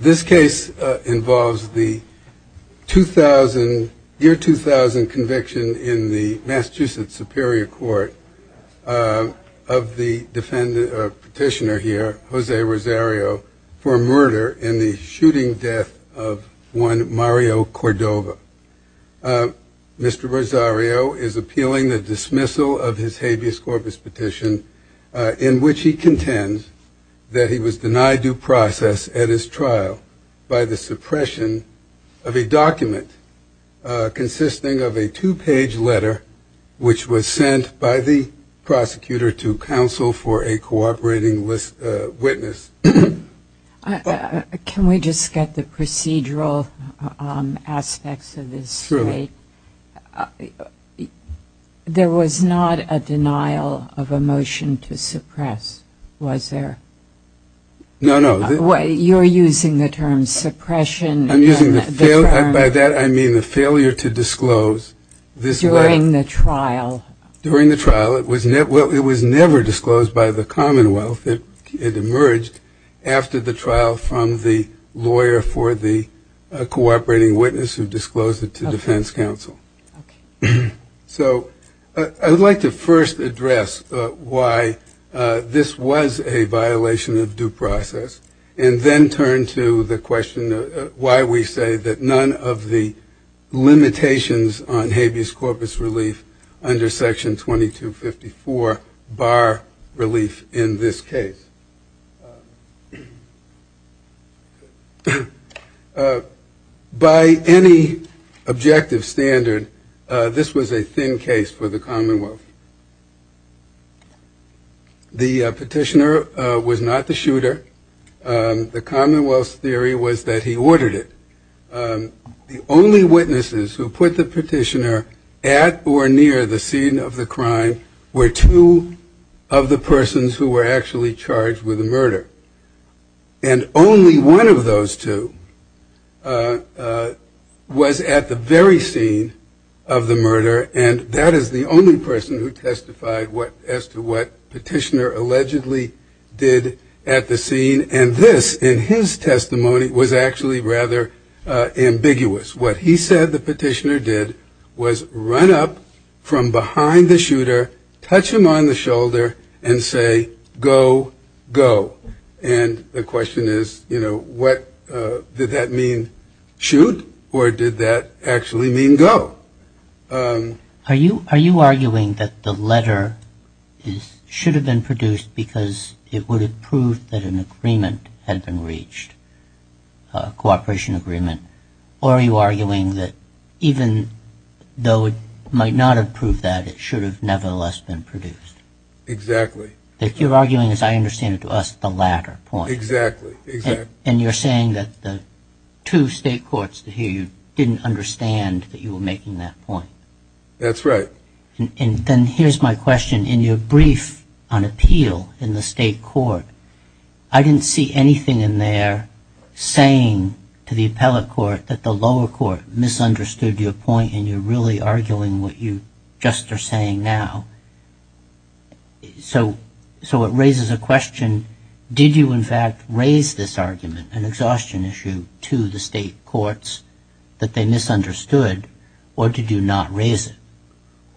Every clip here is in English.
This case involves the year 2000 conviction in the Massachusetts Superior Court of the petitioner here, Jose Rosario, for murder in the shooting death of one Mario Cordova. Mr. Rosario is appealing the dismissal of his habeas corpus petition in which he contends that he was denied due process at his trial by the suppression of a document consisting of a two-page letter which was sent by the prosecutor to counsel for a cooperating witness. Can we just get the procedural aspects of this? Truly. There was not a denial of a motion to suppress, was there? No, no. You're using the term suppression. I'm using the term, by that I mean the failure to disclose this letter. During the trial. During the trial. It was never disclosed by the Commonwealth. It emerged after the trial from the lawyer for the cooperating witness who disclosed it to defense counsel. So I would like to first address why this was a violation of due process and then turn to the question of why we say that none of the limitations on habeas corpus relief under section 2254 bar relief in this case. By any objective standard, this was a thin case for the Commonwealth. The petitioner was not the shooter. The Commonwealth's theory was that he ordered it. The only witnesses who put the petitioner at or near the scene of the crime were two of the persons who were actually charged with murder. And only one of those two was at the very scene of the murder. And that is the only person who testified as to what petitioner allegedly did at the scene. And this, in his testimony, was actually rather ambiguous. What he said the petitioner did was run up from behind the shooter, touch him on the shoulder and say, go, go. And the question is, you know, what did that mean? Shoot or did that actually mean go? Are you arguing that the letter should have been produced because it would have proved that an agreement had been reached, a cooperation agreement? Or are you arguing that even though it might not have proved that, it should have nevertheless been produced? Exactly. That you're arguing, as I understand it to us, the latter point. Exactly. And you're saying that the two state courts here didn't understand that you were making that point. That's right. And then here's my question. In your brief on appeal in the state court, I didn't see anything in there saying to the appellate court that the lower court misunderstood your point and you're really arguing what you just are saying now. So it raises a question. Did you, in fact, raise this argument, an exhaustion issue, to the state courts that they misunderstood? Or did you not raise it?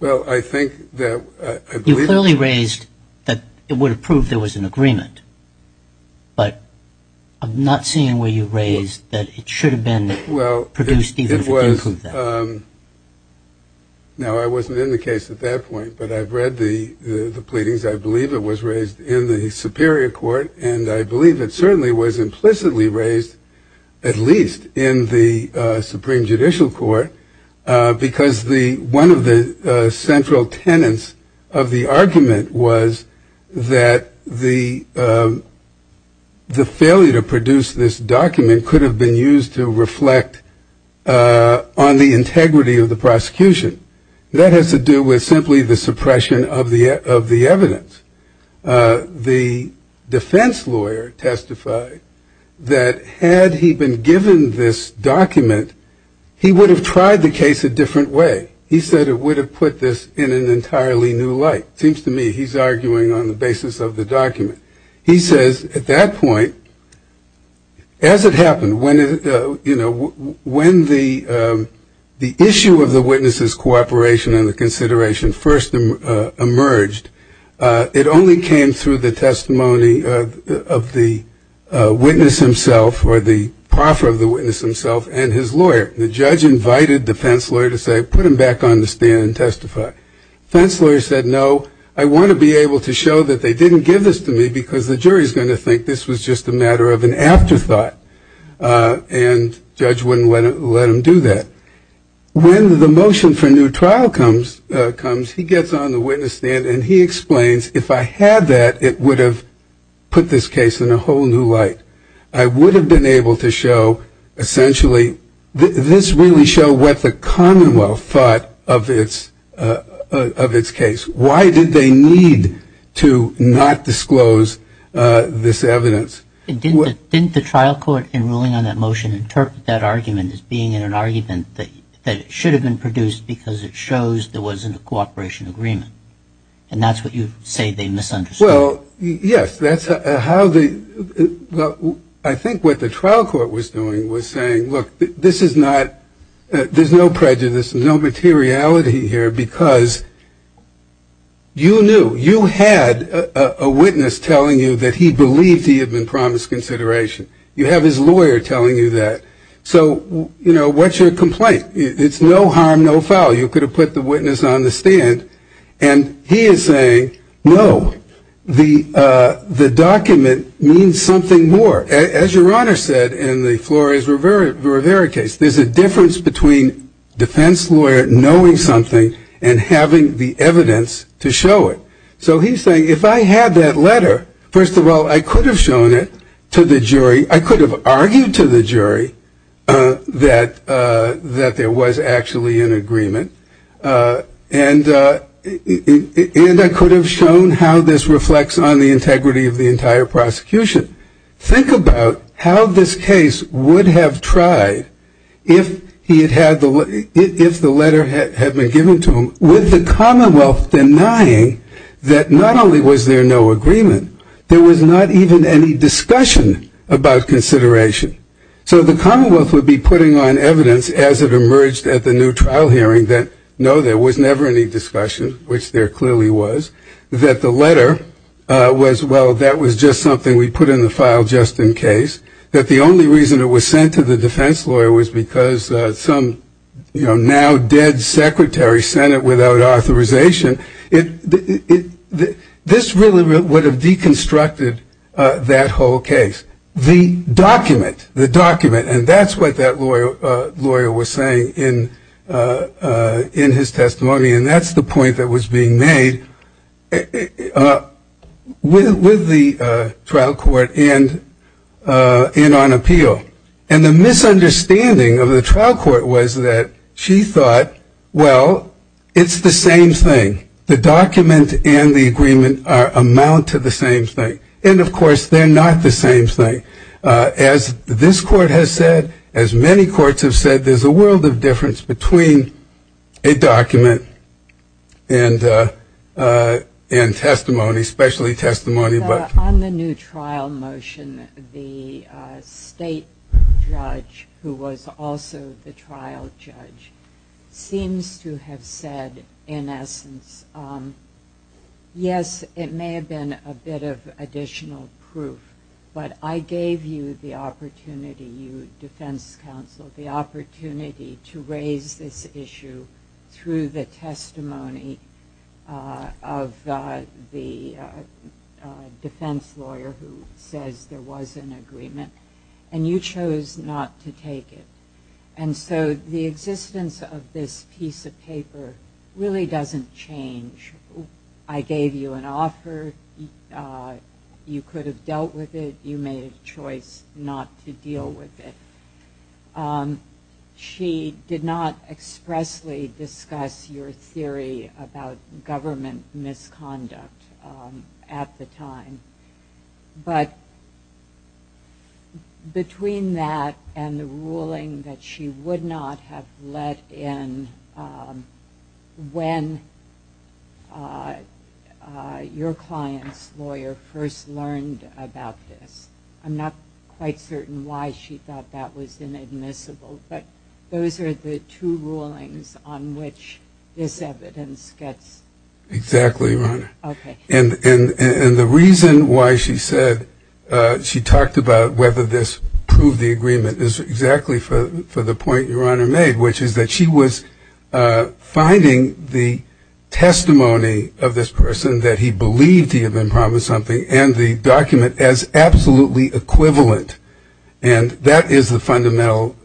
Well, I think that I believe... You clearly raised that it would have proved there was an agreement. But I'm not seeing where you raised that it should have been produced even if it didn't prove that. Now, I wasn't in the case at that point, but I've read the pleadings. I believe it was raised in the superior court. And I believe it certainly was implicitly raised, at least in the Supreme Judicial Court, because one of the central tenets of the argument was that the failure to produce this document could have been used to reflect on the integrity of the prosecution. That has to do with simply the suppression of the evidence. The defense lawyer testified that had he been given this document, he would have tried the case a different way. He said it would have put this in an entirely new light. It seems to me he's arguing on the basis of the document. He says at that point, as it happened, when the issue of the witness's cooperation and the consideration first emerged, it only came through the testimony of the witness himself or the proffer of the witness himself and his lawyer. The judge invited the defense lawyer to say, put him back on the stand and testify. The defense lawyer said, no, I want to be able to show that they didn't give this to me because the jury is going to think this was just a matter of an afterthought. And the judge wouldn't let him do that. When the motion for new trial comes, he gets on the witness stand and he explains, if I had that, it would have put this case in a whole new light. I would have been able to show, essentially, this really showed what the Commonwealth thought of its case. Why did they need to not disclose this evidence? Didn't the trial court in ruling on that motion interpret that argument as being in an argument that it should have been produced because it shows there wasn't a cooperation agreement? And that's what you say they misunderstood. Well, yes, that's how the, I think what the trial court was doing was saying, look, this is not, there's no prejudice, no materiality here because you knew, you had a witness telling you that he believed he had been promised consideration. You have his lawyer telling you that. So, you know, what's your complaint? It's no harm, no foul. You could have put the witness on the stand. And he is saying, no, the document means something more. As your Honor said in the Flores Rivera case, there's a difference between defense lawyer knowing something and having the evidence to show it. So he's saying, if I had that letter, first of all, I could have shown it to the jury. I could have argued to the jury that there was actually an agreement. And I could have shown how this reflects on the integrity of the entire prosecution. Think about how this case would have tried if he had had the, if the letter had been given to him, with the Commonwealth denying that not only was there no agreement, there was not even any discussion about consideration. So the Commonwealth would be putting on evidence as it emerged at the new trial hearing that, no, there was never any discussion, which there clearly was, that the letter was, well, that was just something we put in the file just in case, that the only reason it was sent to the defense lawyer was because some, you know, now dead secretary sent it without authorization. This really would have deconstructed that whole case. The document, the document, and that's what that lawyer was saying in his testimony, and that's the point that was being made with the trial court and on appeal. And the misunderstanding of the trial court was that she thought, well, it's the same thing. The document and the agreement amount to the same thing. And, of course, they're not the same thing. As this court has said, as many courts have said, there's a world of difference between a document and testimony, especially testimony. On the new trial motion, the state judge, who was also the trial judge, seems to have said, in essence, yes, it may have been a bit of additional proof, but I gave you the opportunity, you defense counsel, the opportunity to raise this issue through the testimony of the defense lawyer who says there was an agreement, and you chose not to take it. And so the existence of this piece of paper really doesn't change. I gave you an offer. You could have dealt with it. You made a choice not to deal with it. She did not expressly discuss your theory about government misconduct at the time. But between that and the ruling that she would not have let in when your client's lawyer first learned about this, I'm not quite certain why she thought that was inadmissible, but those are the two rulings on which this evidence gets. Exactly, Ronna. Okay. And the reason why she said she talked about whether this proved the agreement is exactly for the point your Honor made, which is that she was finding the testimony of this person that he believed he had been promised something and the document as absolutely equivalent. And that is the fundamental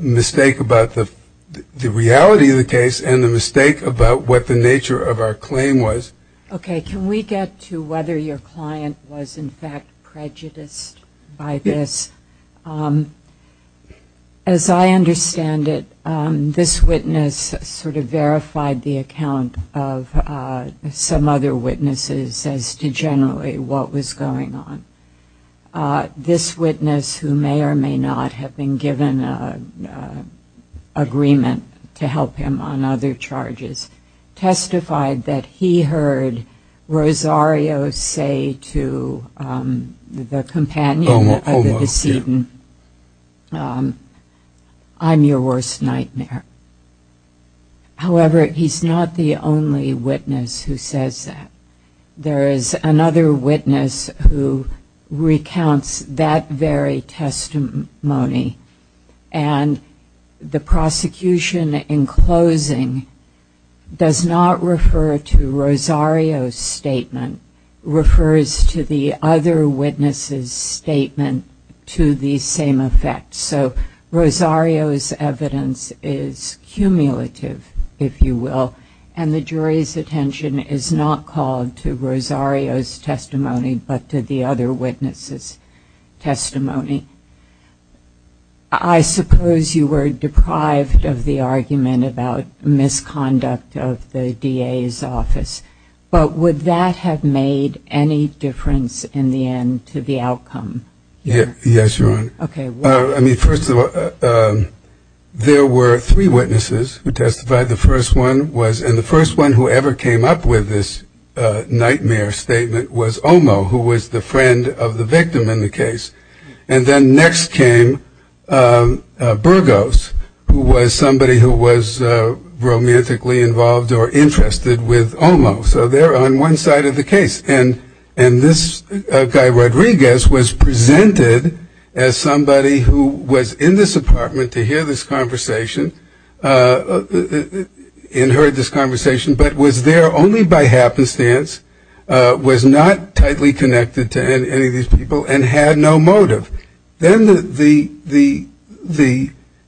mistake about the reality of the case and the mistake about what the nature of our claim was. Okay. Can we get to whether your client was in fact prejudiced by this? As I understand it, this witness sort of verified the account of some other witnesses as to generally what was going on. This witness, who may or may not have been given an agreement to help him on other charges, testified that he heard Rosario say to the companion of the decedent, I'm your worst nightmare. However, he's not the only witness who says that. There is another witness who recounts that very testimony and the prosecution, in closing, does not refer to Rosario's statement. It refers to the other witness's statement to the same effect. So Rosario's evidence is cumulative, if you will, and the jury's attention is not called to Rosario's testimony but to the other witness's testimony. I suppose you were deprived of the argument about misconduct of the DA's office, but would that have made any difference in the end to the outcome? Yes, Your Honor. Okay. I mean, first of all, there were three witnesses who testified. The first one was, and the first one who ever came up with this nightmare statement was Omo, who was the friend of the victim in the case. And then next came Burgos, who was somebody who was romantically involved or interested with Omo. So they're on one side of the case. And this guy, Rodriguez, was presented as somebody who was in this apartment to hear this conversation and heard this conversation but was there only by happenstance, was not tightly connected to any of these people, and had no motive. Then the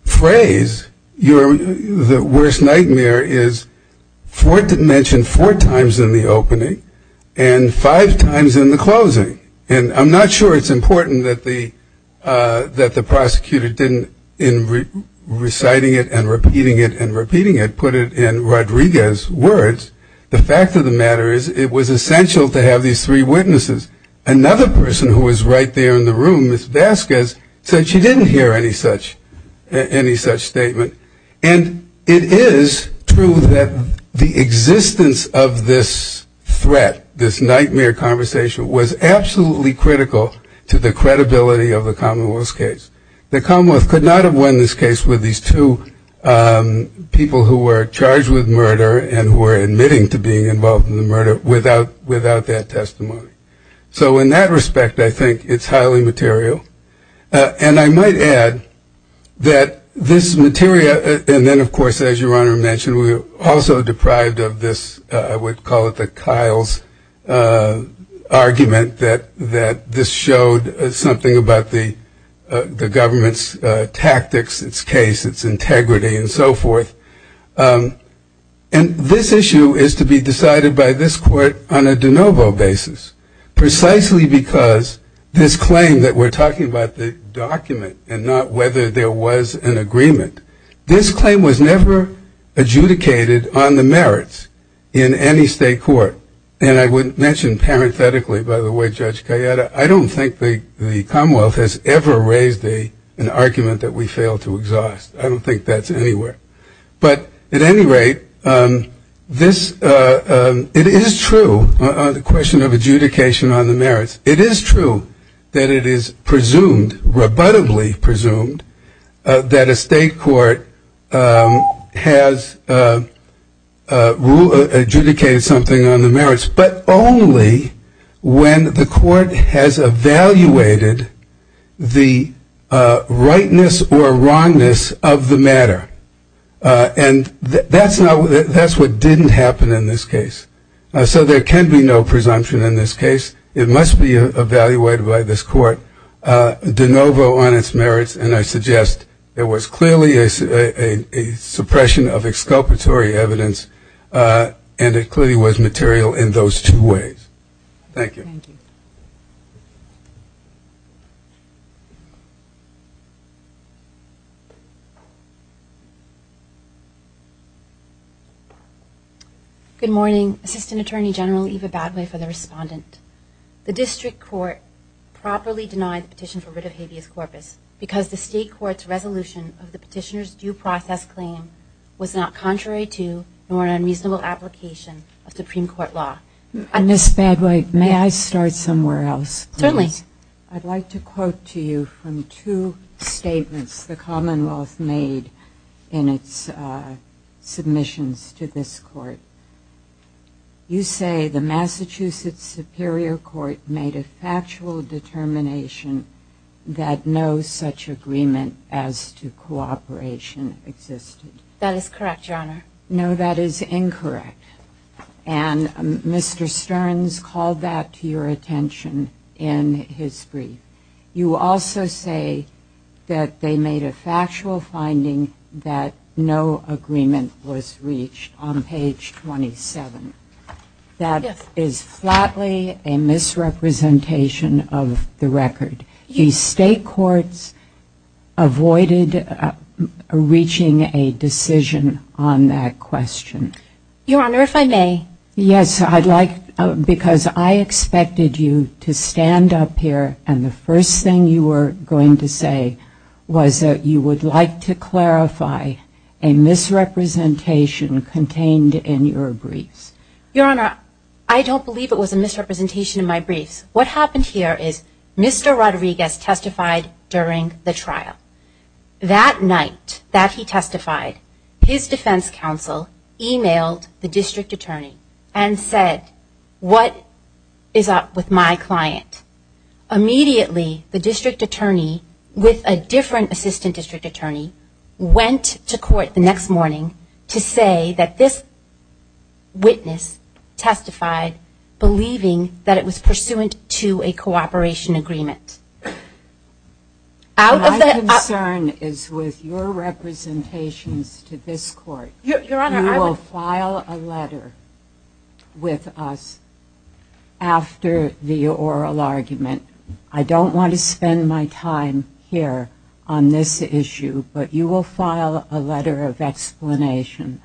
phrase, the worst nightmare, is mentioned four times in the opening and five times in the closing. And I'm not sure it's important that the prosecutor didn't, in reciting it and repeating it and repeating it, put it in Rodriguez's words. The fact of the matter is it was essential to have these three witnesses. Another person who was right there in the room, Ms. Vasquez, said she didn't hear any such statement. And it is true that the existence of this threat, this nightmare conversation, was absolutely critical to the credibility of the Commonwealth's case. The Commonwealth could not have won this case with these two people who were charged with murder and were admitting to being involved in the murder without that testimony. So in that respect, I think it's highly material. And I might add that this material, and then, of course, as Your Honor mentioned, we were also deprived of this, I would call it the Kyle's argument, that this showed something about the government's tactics, its case, its integrity, and so forth. And this issue is to be decided by this court on a de novo basis, precisely because this claim that we're talking about the document and not whether there was an agreement, this claim was never adjudicated on the merits in any state court. And I would mention parenthetically, by the way, Judge Cayetta, I don't think the Commonwealth has ever raised an argument that we failed to exhaust. I don't think that's anywhere. But at any rate, it is true, the question of adjudication on the merits, it is true that it is presumed, rebuttably presumed, that a state court has adjudicated something on the merits, but only when the court has evaluated the rightness or wrongness of the matter. And that's what didn't happen in this case. So there can be no presumption in this case. It must be evaluated by this court de novo on its merits, and I suggest there was clearly a suppression of exculpatory evidence, and it clearly was material in those two ways. Thank you. Thank you. Good morning. Assistant Attorney General Eva Badway for the respondent. The district court properly denied the petition for writ of habeas corpus because the state court's resolution of the petitioner's due process claim was not contrary to or an unreasonable application of Supreme Court law. Ms. Badway, may I start somewhere else, please? Certainly. I'd like to quote to you from two statements the Commonwealth made in its submissions to this court. You say the Massachusetts Superior Court made a factual determination that no such agreement as to cooperation existed. That is correct, Your Honor. No, that is incorrect, and Mr. Stearns called that to your attention in his brief. You also say that they made a factual finding that no agreement was reached on page 27. That is flatly a misrepresentation of the record. The state courts avoided reaching a decision on that question. Your Honor, if I may. Yes, because I expected you to stand up here, and the first thing you were going to say was that you would like to clarify a misrepresentation contained in your briefs. Your Honor, I don't believe it was a misrepresentation in my briefs. What happened here is Mr. Rodriguez testified during the trial. That night that he testified, his defense counsel emailed the district attorney and said, what is up with my client? Immediately, the district attorney, with a different assistant district attorney, went to court the next morning to say that this witness testified believing that it was pursuant to a cooperation agreement. My concern is with your representations to this court. Your Honor, I would I don't want to spend my time here on this issue, but you will file a letter of explanation.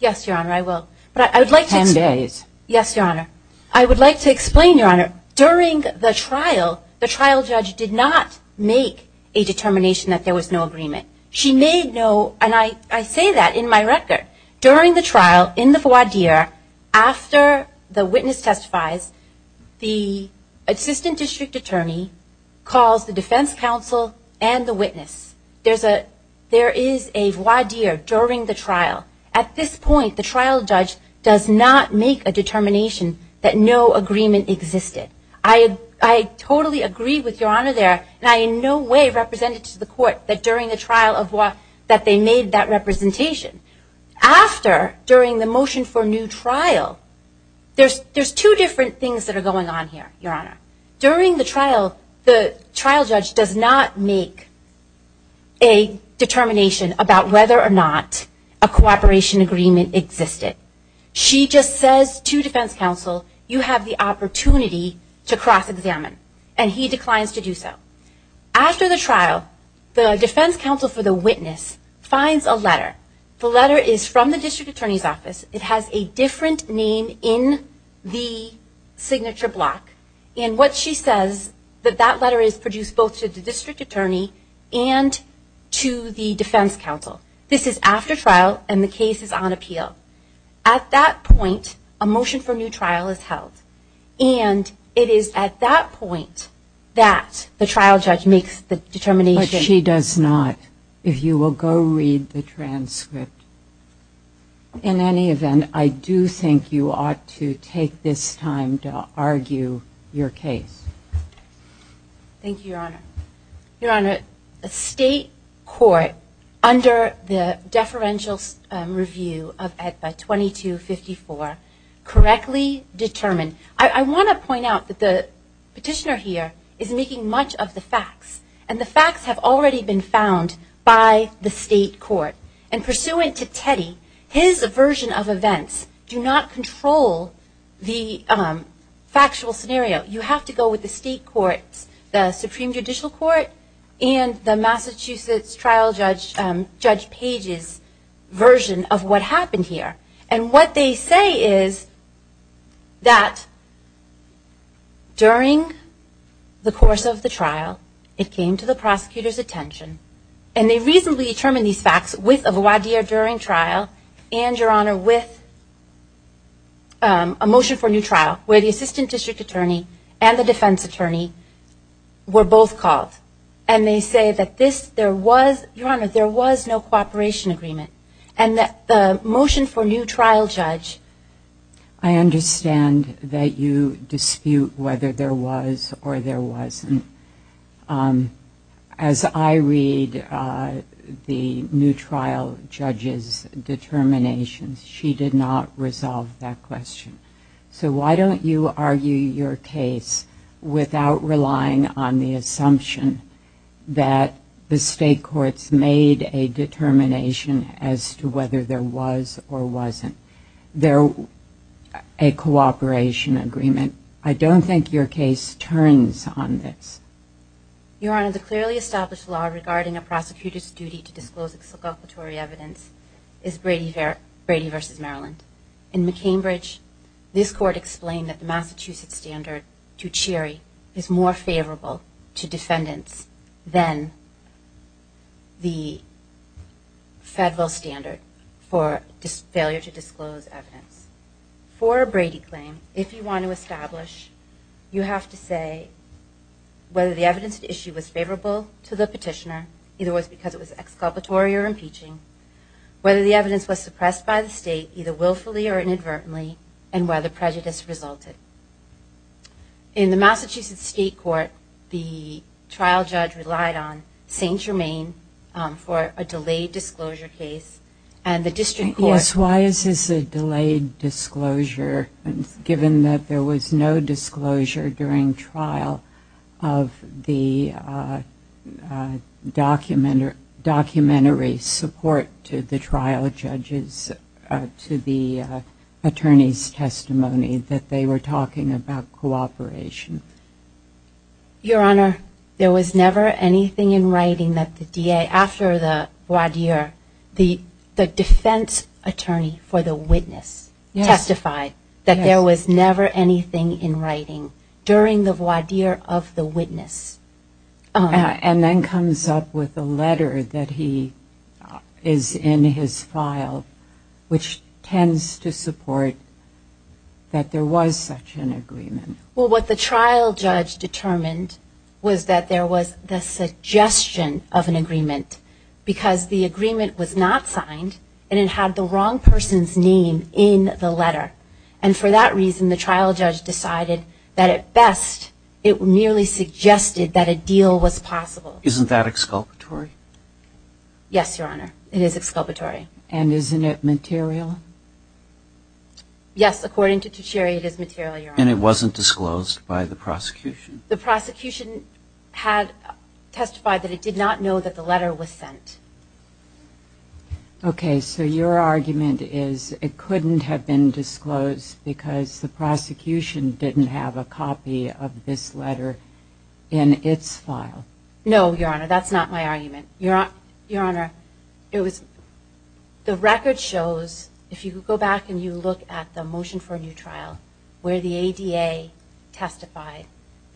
Yes, Your Honor, I will. Ten days. Yes, Your Honor. I would like to explain, Your Honor, during the trial, the trial judge did not make a determination that there was no agreement. She made no, and I say that in my record, during the trial in the voir dire, after the witness testifies, the assistant district attorney calls the defense counsel and the witness. There is a voir dire during the trial. At this point, the trial judge does not make a determination that no agreement existed. I totally agree with Your Honor there, and I in no way represent it to the court that during the trial that they made that representation. After, during the motion for new trial, there's two different things that are going on here, Your Honor. During the trial, the trial judge does not make a determination about whether or not a cooperation agreement existed. She just says to defense counsel, you have the opportunity to cross examine, and he declines to do so. The letter is from the district attorney's office. It has a different name in the signature block, and what she says that that letter is produced both to the district attorney and to the defense counsel. This is after trial, and the case is on appeal. At that point, a motion for new trial is held, and it is at that point that the trial judge makes the determination. But she does not, if you will go read the transcript. In any event, I do think you ought to take this time to argue your case. Thank you, Your Honor. Your Honor, a state court under the deferential review of EDPA 2254 correctly determined. I want to point out that the petitioner here is making much of the facts, and the facts have already been found by the state court. And pursuant to Teddy, his version of events do not control the factual scenario. You have to go with the state court, the Supreme Judicial Court, and the Massachusetts trial judge, Judge Page's version of what happened here. And what they say is that during the course of the trial, it came to the prosecutor's attention, and they reasonably determined these facts with a voir dire during trial and, Your Honor, with a motion for new trial, where the assistant district attorney and the defense attorney were both called. And they say that this, there was, Your Honor, there was no cooperation agreement, and that the motion for new trial judge. I understand that you dispute whether there was or there wasn't. As I read the new trial judge's determinations, she did not resolve that question. So why don't you argue your case without relying on the assumption that the state courts made a determination as to whether there was or wasn't a cooperation agreement? I don't think your case turns on this. Your Honor, the clearly established law regarding a prosecutor's duty to disclose exculpatory evidence is Brady v. Maryland. In McCambridge, this court explained that the Massachusetts standard to cheery is more favorable to defendants than the federal standard for failure to disclose evidence. For a Brady claim, if you want to establish, you have to say whether the evidence at issue was favorable to the petitioner, either it was because it was exculpatory or impeaching, whether the evidence was suppressed by the state, either willfully or inadvertently, and whether prejudice resulted. In the Massachusetts state court, the trial judge relied on St. Germain for a delayed disclosure case, and the district court... Yes, why is this a delayed disclosure, given that there was no disclosure during trial of the documentary support to the trial judges to the attorney's testimony that they were talking about cooperation? Your Honor, there was never anything in writing that the DA, after the voir dire, the defense attorney for the witness testified that there was never anything in writing during the voir dire of the witness. And then comes up with a letter that he is in his file, which tends to support that there was such an agreement. Well, what the trial judge determined was that there was the suggestion of an agreement because the agreement was not signed and it had the wrong person's name in the letter. And for that reason, the trial judge decided that, at best, it merely suggested that a deal was possible. Isn't that exculpatory? Yes, Your Honor, it is exculpatory. And isn't it material? Yes, according to Tuccieri, it is material, Your Honor. And it wasn't disclosed by the prosecution? The prosecution had testified that it did not know that the letter was sent. Okay, so your argument is it couldn't have been disclosed because the prosecution didn't have a copy of this letter in its file. No, Your Honor, that's not my argument. Your Honor, the record shows, if you go back and you look at the motion for a new trial, where the ADA testified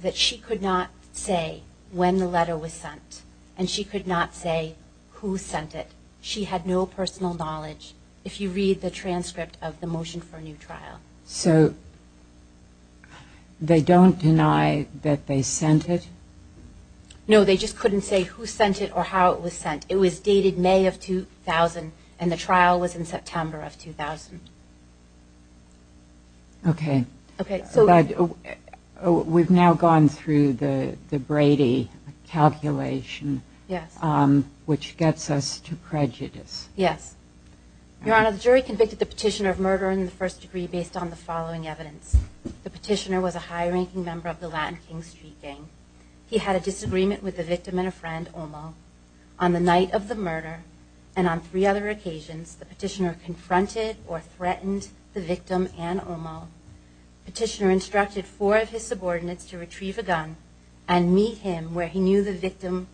that she could not say when the letter was sent and she could not say who sent it. She had no personal knowledge, if you read the transcript of the motion for a new trial. So they don't deny that they sent it? No, they just couldn't say who sent it or how it was sent. It was dated May of 2000, and the trial was in September of 2000. Okay. We've now gone through the Brady calculation, which gets us to prejudice. Yes. Your Honor, the jury convicted the petitioner of murder in the first degree based on the following evidence. The petitioner was a high-ranking member of the Latin King Street gang. He had a disagreement with the victim and a friend, Omo. On the night of the murder and on three other occasions, the petitioner confronted or threatened the victim and Omo. The petitioner instructed four of his subordinates to retrieve a gun and meet him where he knew the victim,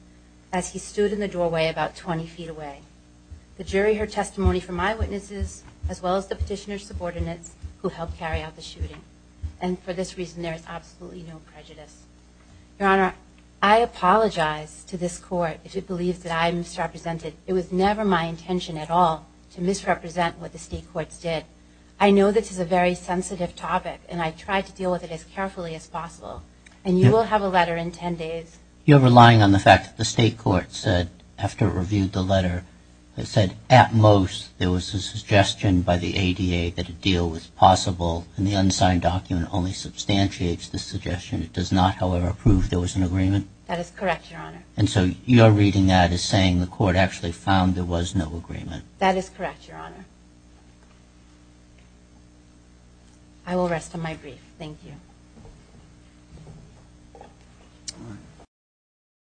as he stood in the doorway about 20 feet away. The jury heard testimony from my witnesses as well as the petitioner's subordinates who helped carry out the shooting. And for this reason, there is absolutely no prejudice. Your Honor, I apologize to this court if it believes that I misrepresented. It was never my intention at all to misrepresent what the state courts did. I know this is a very sensitive topic, and I tried to deal with it as carefully as possible. And you will have a letter in 10 days. You're relying on the fact that the state court said, after it reviewed the letter, it said, at most, there was a suggestion by the ADA that a deal was possible, and the unsigned document only substantiates the suggestion. It does not, however, prove there was an agreement? That is correct, Your Honor. And so you're reading that as saying the court actually found there was no agreement? That is correct, Your Honor. I will rest on my brief. Thank you.